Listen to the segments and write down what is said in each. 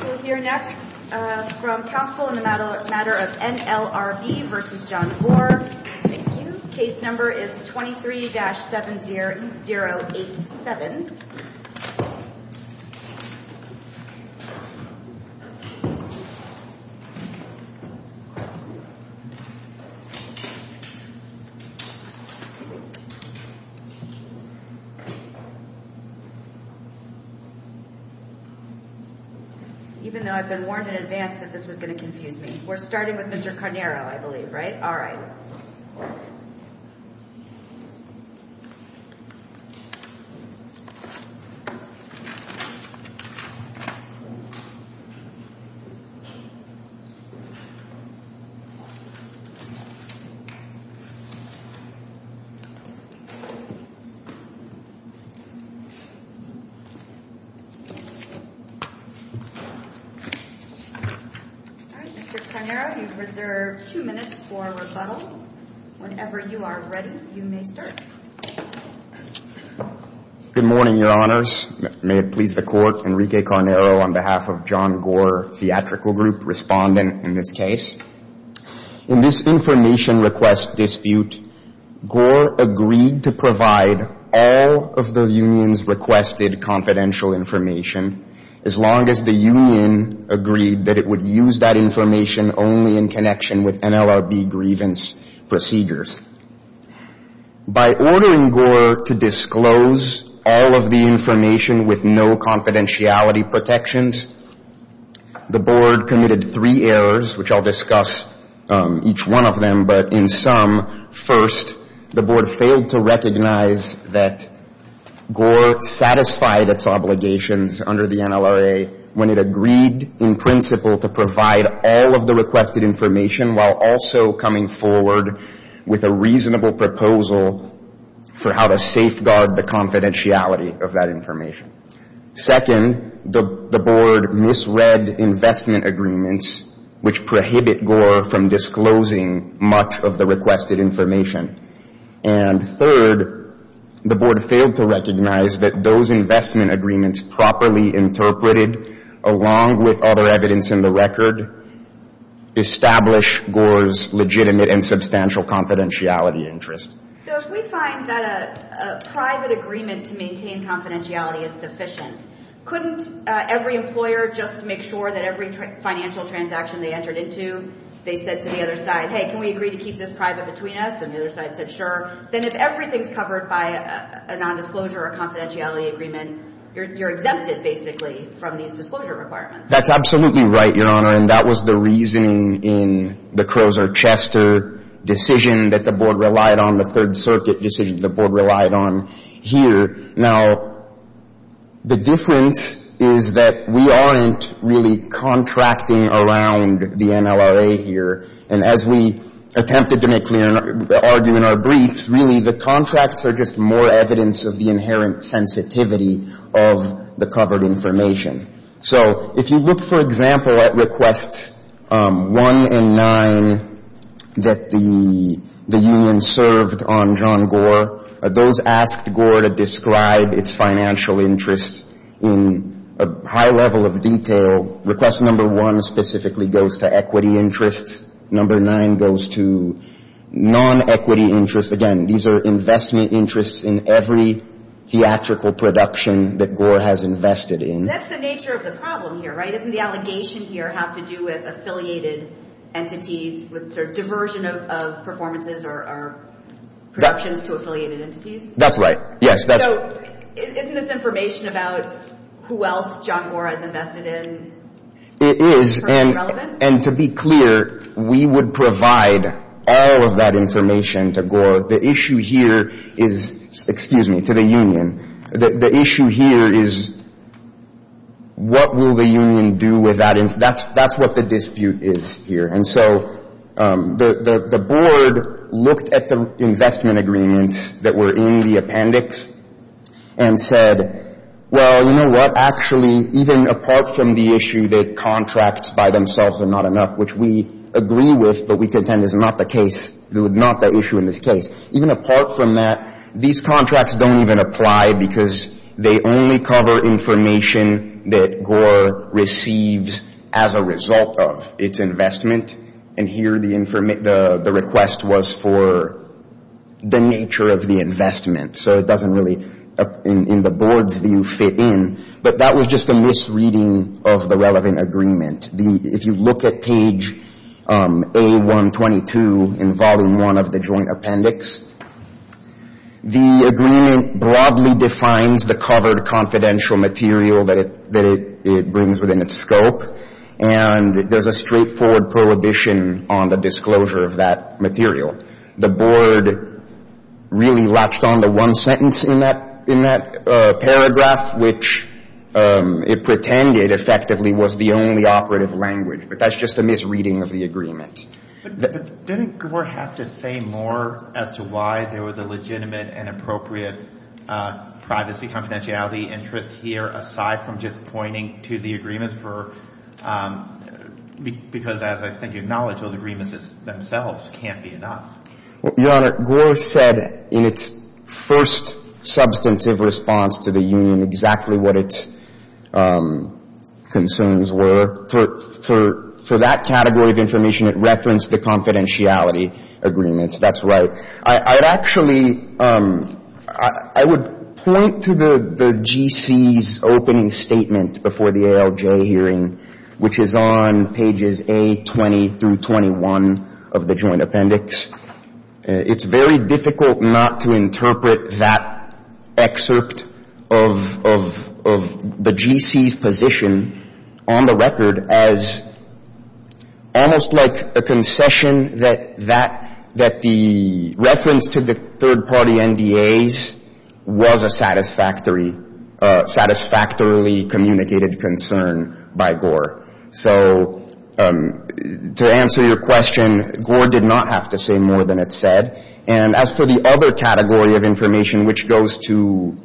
We'll hear next from counsel in the matter of NLRB v. John Gore. Thank you. Case number is 23-7087. Even though I've been warned in advance that this was going to confuse me. We're starting with Mr. Carnaro, I believe, right? All right. All right, Mr. Carnaro, you've reserved two minutes for rebuttal. Whenever you are ready, you may start. Good morning, Your Honors. May it please the Court, Enrique Carnaro on behalf of John Gore Theatrical Group, respondent in this case. In this information request dispute, Gore agreed to provide all of the union's requested confidential information as long as the union agreed that it would use that information only in connection with NLRB grievance procedures. By ordering Gore to disclose all of the information with no confidentiality protections, the Board committed three errors, which I'll discuss each one of them. But in sum, first, the Board failed to recognize that Gore satisfied its obligations under the NLRA when it agreed in principle to provide all of the requested information while also coming forward with a reasonable proposal for how to safeguard the confidentiality of that information. Second, the Board misread investment agreements, which prohibit Gore from disclosing much of the requested information. And third, the Board failed to recognize that those investment agreements properly interpreted, along with other evidence in the record, establish Gore's legitimate and substantial confidentiality interests. So if we find that a private agreement to maintain confidentiality is sufficient, couldn't every employer just make sure that every financial transaction they entered into, they said to the other side, hey, can we agree to keep this private between us? And the other side said, sure. Then if everything's covered by a nondisclosure or confidentiality agreement, you're exempted, basically, from these disclosure requirements. That's absolutely right, Your Honor. And that was the reasoning in the Crozer-Chester decision that the Board relied on, the Third Circuit decision the Board relied on here. Now, the difference is that we aren't really contracting around the NLRA here. And as we attempted to make clear and argue in our briefs, really, the contracts are just more evidence of the inherent sensitivity of the covered information. So if you look, for example, at Requests 1 and 9 that the union served on John Gore, those asked Gore to describe its financial interests in a high level of detail, Request No. 1 specifically goes to equity interests. No. 9 goes to non-equity interests. Again, these are investment interests in every theatrical production that Gore has invested in. And that's the nature of the problem here, right? Doesn't the allegation here have to do with affiliated entities, with sort of diversion of performances or productions to affiliated entities? That's right, yes. So isn't this information about who else John Gore has invested in personally relevant? It is. And to be clear, we would provide all of that information to Gore. The issue here is to the union. The issue here is what will the union do with that? That's what the dispute is here. And so the board looked at the investment agreements that were in the appendix and said, well, you know what, actually, even apart from the issue that contracts by themselves are not enough, which we agree with but we contend is not the case, not the issue in this case, even apart from that, these contracts don't even apply because they only cover information that Gore receives as a result of its investment. And here the request was for the nature of the investment. So it doesn't really, in the board's view, fit in. But that was just a misreading of the relevant agreement. If you look at page A-122 in volume one of the joint appendix, the agreement broadly defines the covered confidential material that it brings within its scope, and there's a straightforward prohibition on the disclosure of that material. The board really latched onto one sentence in that paragraph, not which it pretended effectively was the only operative language, but that's just a misreading of the agreement. But didn't Gore have to say more as to why there was a legitimate and appropriate privacy confidentiality interest here aside from just pointing to the agreements for – because as I think you acknowledge, those agreements themselves can't be enough. Your Honor, Gore said in its first substantive response to the union exactly what its concerns were. For that category of information, it referenced the confidentiality agreements. That's right. I would actually – I would point to the GC's opening statement before the ALJ hearing, which is on pages A-20 through 21 of the joint appendix. It's very difficult not to interpret that excerpt of the GC's position on the record as almost like a concession that the reference to the third-party NDAs was a satisfactorily communicated concern by Gore. So to answer your question, Gore did not have to say more than it said. And as for the other category of information, which goes to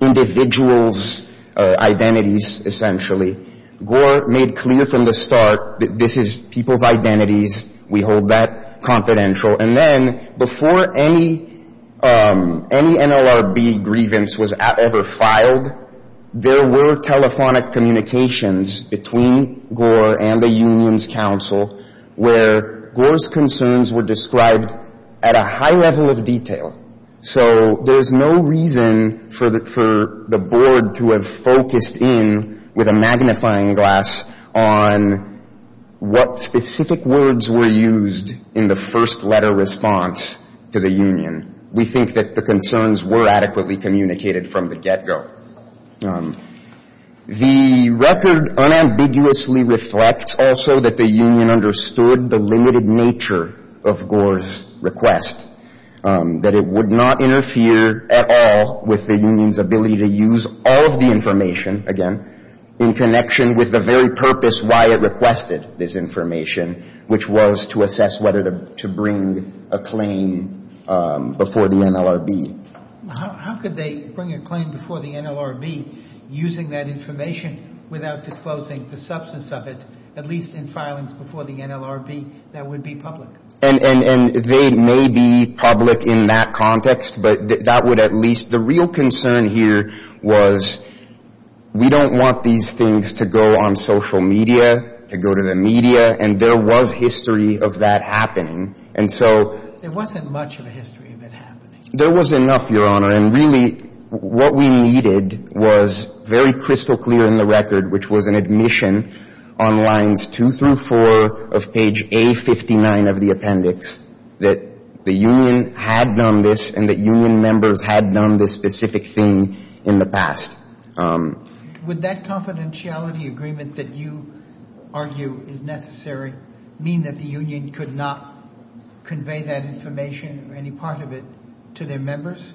individuals' identities, essentially, Gore made clear from the start that this is people's identities. We hold that confidential. And then before any NLRB grievance was ever filed, there were telephonic communications between Gore and the union's counsel where Gore's concerns were described at a high level of detail. So there's no reason for the board to have focused in with a magnifying glass on what specific words were used in the first-letter response to the union. We think that the concerns were adequately communicated from the get-go. The record unambiguously reflects also that the union understood the limited nature of Gore's request, that it would not interfere at all with the union's ability to use all of the information, again, in connection with the very purpose why it requested this information, which was to assess whether to bring a claim before the NLRB. How could they bring a claim before the NLRB using that information without disclosing the substance of it, at least in filings before the NLRB, that would be public? And they may be public in that context, but that would at least — the real concern here was we don't want these things to go on social media, to go to the media. And there was history of that happening. And so — There wasn't much of a history of it happening. There was enough, Your Honor. And really what we needed was very crystal clear in the record, which was an admission on lines two through four of page A59 of the appendix, that the union had done this and that union members had done this specific thing in the past. Would that confidentiality agreement that you argue is necessary mean that the union could not convey that information or any part of it to their members?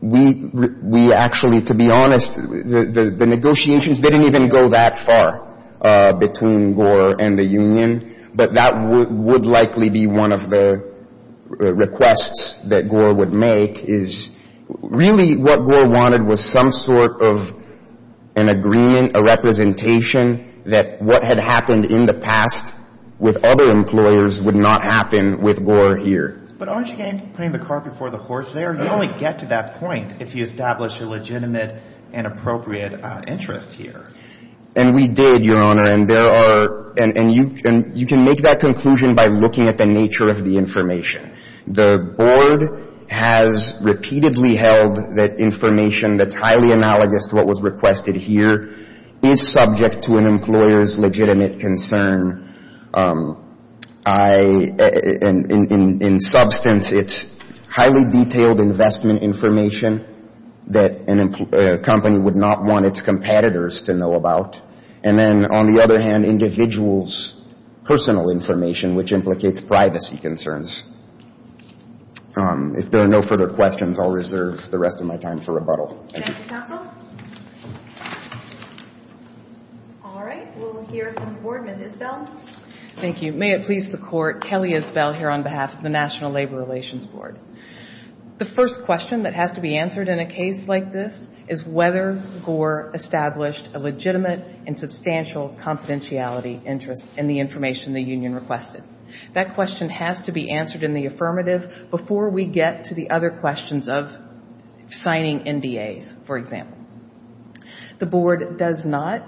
We actually, to be honest, the negotiations didn't even go that far between Gore and the union. But that would likely be one of the requests that Gore would make, is really what Gore wanted was some sort of an agreement, a representation, that what had happened in the past with other employers would not happen with Gore here. But aren't you putting the car before the horse there? You only get to that point if you establish a legitimate and appropriate interest here. And we did, Your Honor. And there are — and you can make that conclusion by looking at the nature of the information. The board has repeatedly held that information that's highly analogous to what was requested here is subject to an employer's legitimate concern. In substance, it's highly detailed investment information that a company would not want its competitors to know about. And then, on the other hand, individuals' personal information, which implicates privacy concerns. If there are no further questions, I'll reserve the rest of my time for rebuttal. Thank you, counsel. All right. We'll hear from the board. Ms. Isbell. Thank you. May it please the Court, Kelly Isbell here on behalf of the National Labor Relations Board. The first question that has to be answered in a case like this is whether Gore established a legitimate and substantial confidentiality interest in the information the union requested. That question has to be answered in the affirmative before we get to the other questions of signing NDAs, for example. The board does not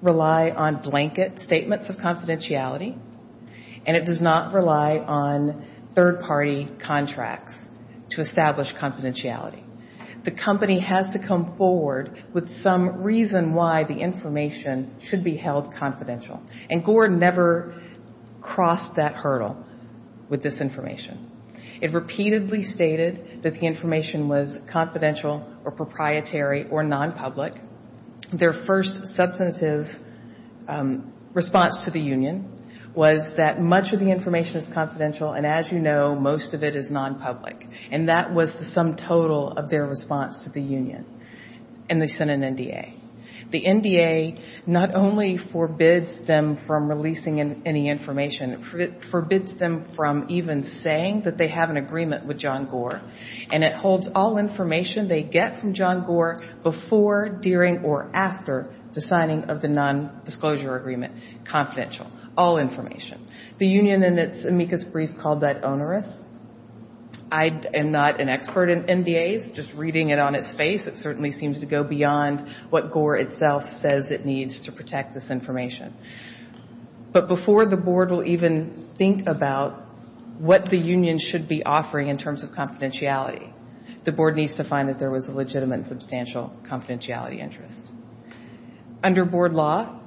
rely on blanket statements of confidentiality, and it does not rely on third-party contracts to establish confidentiality. The company has to come forward with some reason why the information should be held confidential. And Gore never crossed that hurdle with this information. It repeatedly stated that the information was confidential or proprietary or nonpublic. Their first substantive response to the union was that much of the information is confidential, and as you know, most of it is nonpublic. And that was the sum total of their response to the union. And they sent an NDA. The NDA not only forbids them from releasing any information, it forbids them from even saying that they have an agreement with John Gore, and it holds all information they get from John Gore before, during, or after the signing of the nondisclosure agreement confidential, all information. The union in its amicus brief called that onerous. I am not an expert in NDAs. It certainly seems to go beyond what Gore itself says it needs to protect this information. But before the board will even think about what the union should be offering in terms of confidentiality, the board needs to find that there was a legitimate and substantial confidentiality interest. Under board law,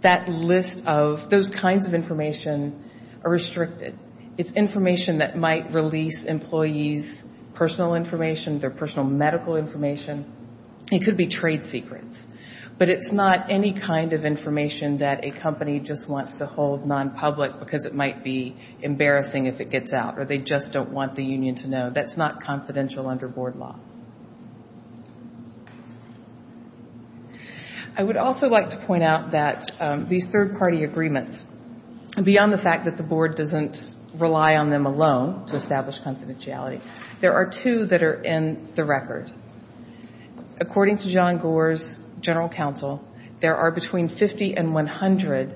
that list of those kinds of information are restricted. It's information that might release employees' personal information, their personal medical information. It could be trade secrets. But it's not any kind of information that a company just wants to hold nonpublic because it might be embarrassing if it gets out, or they just don't want the union to know. That's not confidential under board law. I would also like to point out that these third-party agreements, beyond the fact that the board doesn't rely on them alone to establish confidentiality, there are two that are in the record. According to John Gore's general counsel, there are between 50 and 100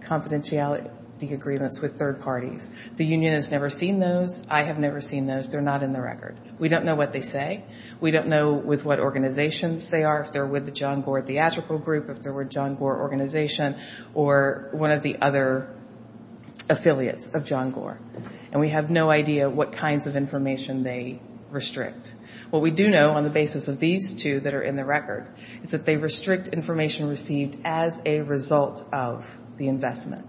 confidentiality agreements with third parties. The union has never seen those. I have never seen those. They're not in the record. We don't know what they say. We don't know with what organizations they are, if they're with the John Gore Theatrical Group, if they're with John Gore Organization, or one of the other affiliates of John Gore. And we have no idea what kinds of information they restrict. What we do know on the basis of these two that are in the record is that they restrict information received as a result of the investment.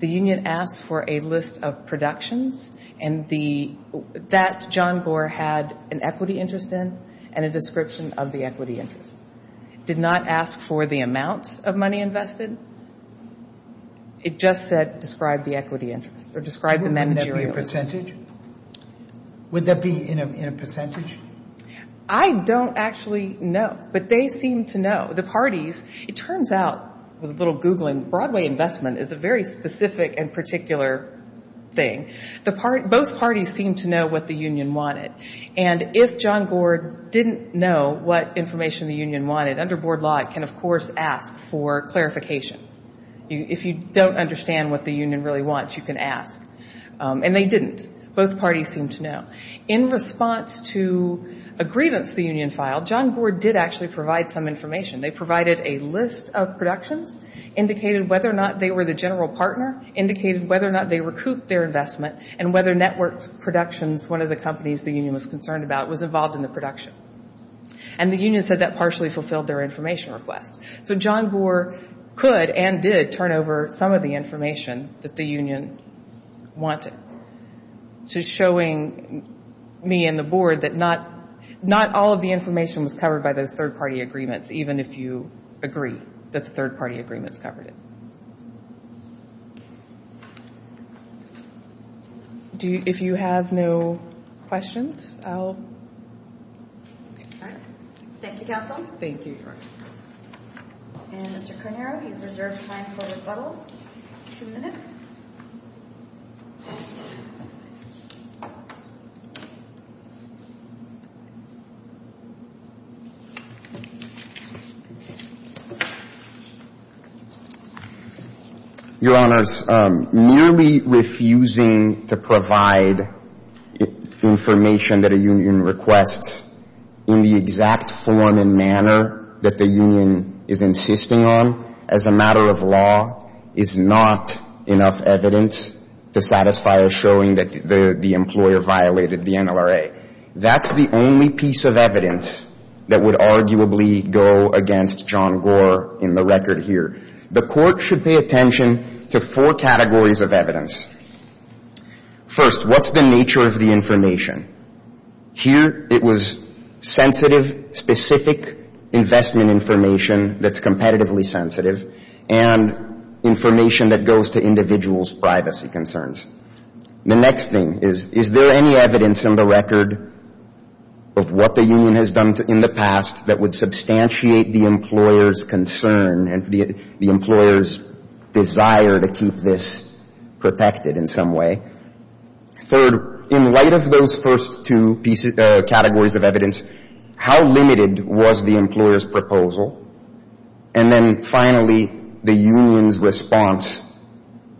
The union asks for a list of productions that John Gore had an equity interest in and a description of the equity interest. It did not ask for the amount of money invested. It just said describe the equity interest or describe the managerial interest. Wouldn't that be a percentage? Would that be in a percentage? I don't actually know, but they seem to know. The parties, it turns out, with a little Googling, Broadway investment is a very specific and particular thing. Both parties seem to know what the union wanted. And if John Gore didn't know what information the union wanted, under board law it can, of course, ask for clarification. If you don't understand what the union really wants, you can ask. And they didn't. Both parties seem to know. In response to a grievance the union filed, John Gore did actually provide some information. They provided a list of productions, indicated whether or not they were the general partner, indicated whether or not they recouped their investment, and whether networked productions, one of the companies the union was concerned about, was involved in the production. And the union said that partially fulfilled their information request. So John Gore could and did turn over some of the information that the union wanted. So showing me and the board that not all of the information was covered by those third-party agreements, even if you agree that the third-party agreements covered it. If you have no questions, I'll... Thank you, counsel. Thank you. And Mr. Cornero, you've reserved time for rebuttal. Two minutes. Your Honors, merely refusing to provide information that a union requests in the exact form and manner that the union is insisting on as a matter of law is not enough evidence to satisfy us showing that the employer violated the NLRA. That's the only piece of evidence that would arguably go against John Gore in the record here. The court should pay attention to four categories of evidence. First, what's the nature of the information? Here it was sensitive, specific investment information that's competitively sensitive and information that goes to individuals' privacy concerns. The next thing is, is there any evidence in the record of what the union has done in the past that would substantiate the employer's concern and the employer's desire to keep this protected in some way? Third, in light of those first two categories of evidence, how limited was the employer's proposal? And then finally, the union's response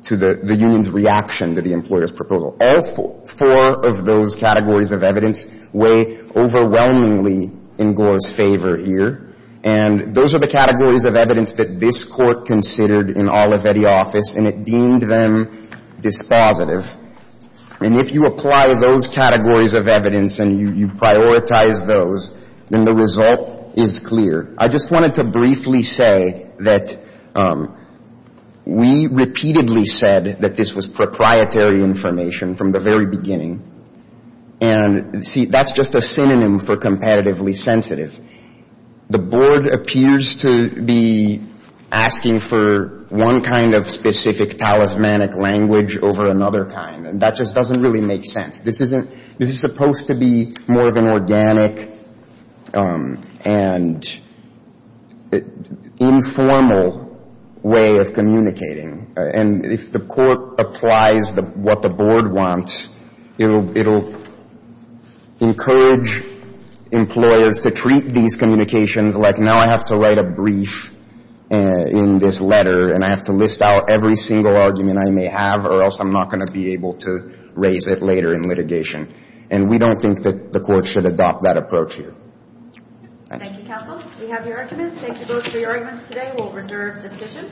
to the union's reaction to the employer's proposal. All four of those categories of evidence weigh overwhelmingly in Gore's favor here. And those are the categories of evidence that this Court considered in all of Eddie's office, and it deemed them dispositive. And if you apply those categories of evidence and you prioritize those, then the result is clear. I just wanted to briefly say that we repeatedly said that this was proprietary information from the very beginning. And, see, that's just a synonym for competitively sensitive. The Board appears to be asking for one kind of specific talismanic language over another kind, and that just doesn't really make sense. This is supposed to be more of an organic and informal way of communicating. And if the Court applies what the Board wants, it'll encourage employers to treat these communications like, now I have to write a brief in this letter and I have to list out every single argument I may have or else I'm not going to be able to raise it later in litigation. And we don't think that the Court should adopt that approach here. Thank you, counsel. We have your arguments. Thank you both for your arguments today. We will reserve discussion.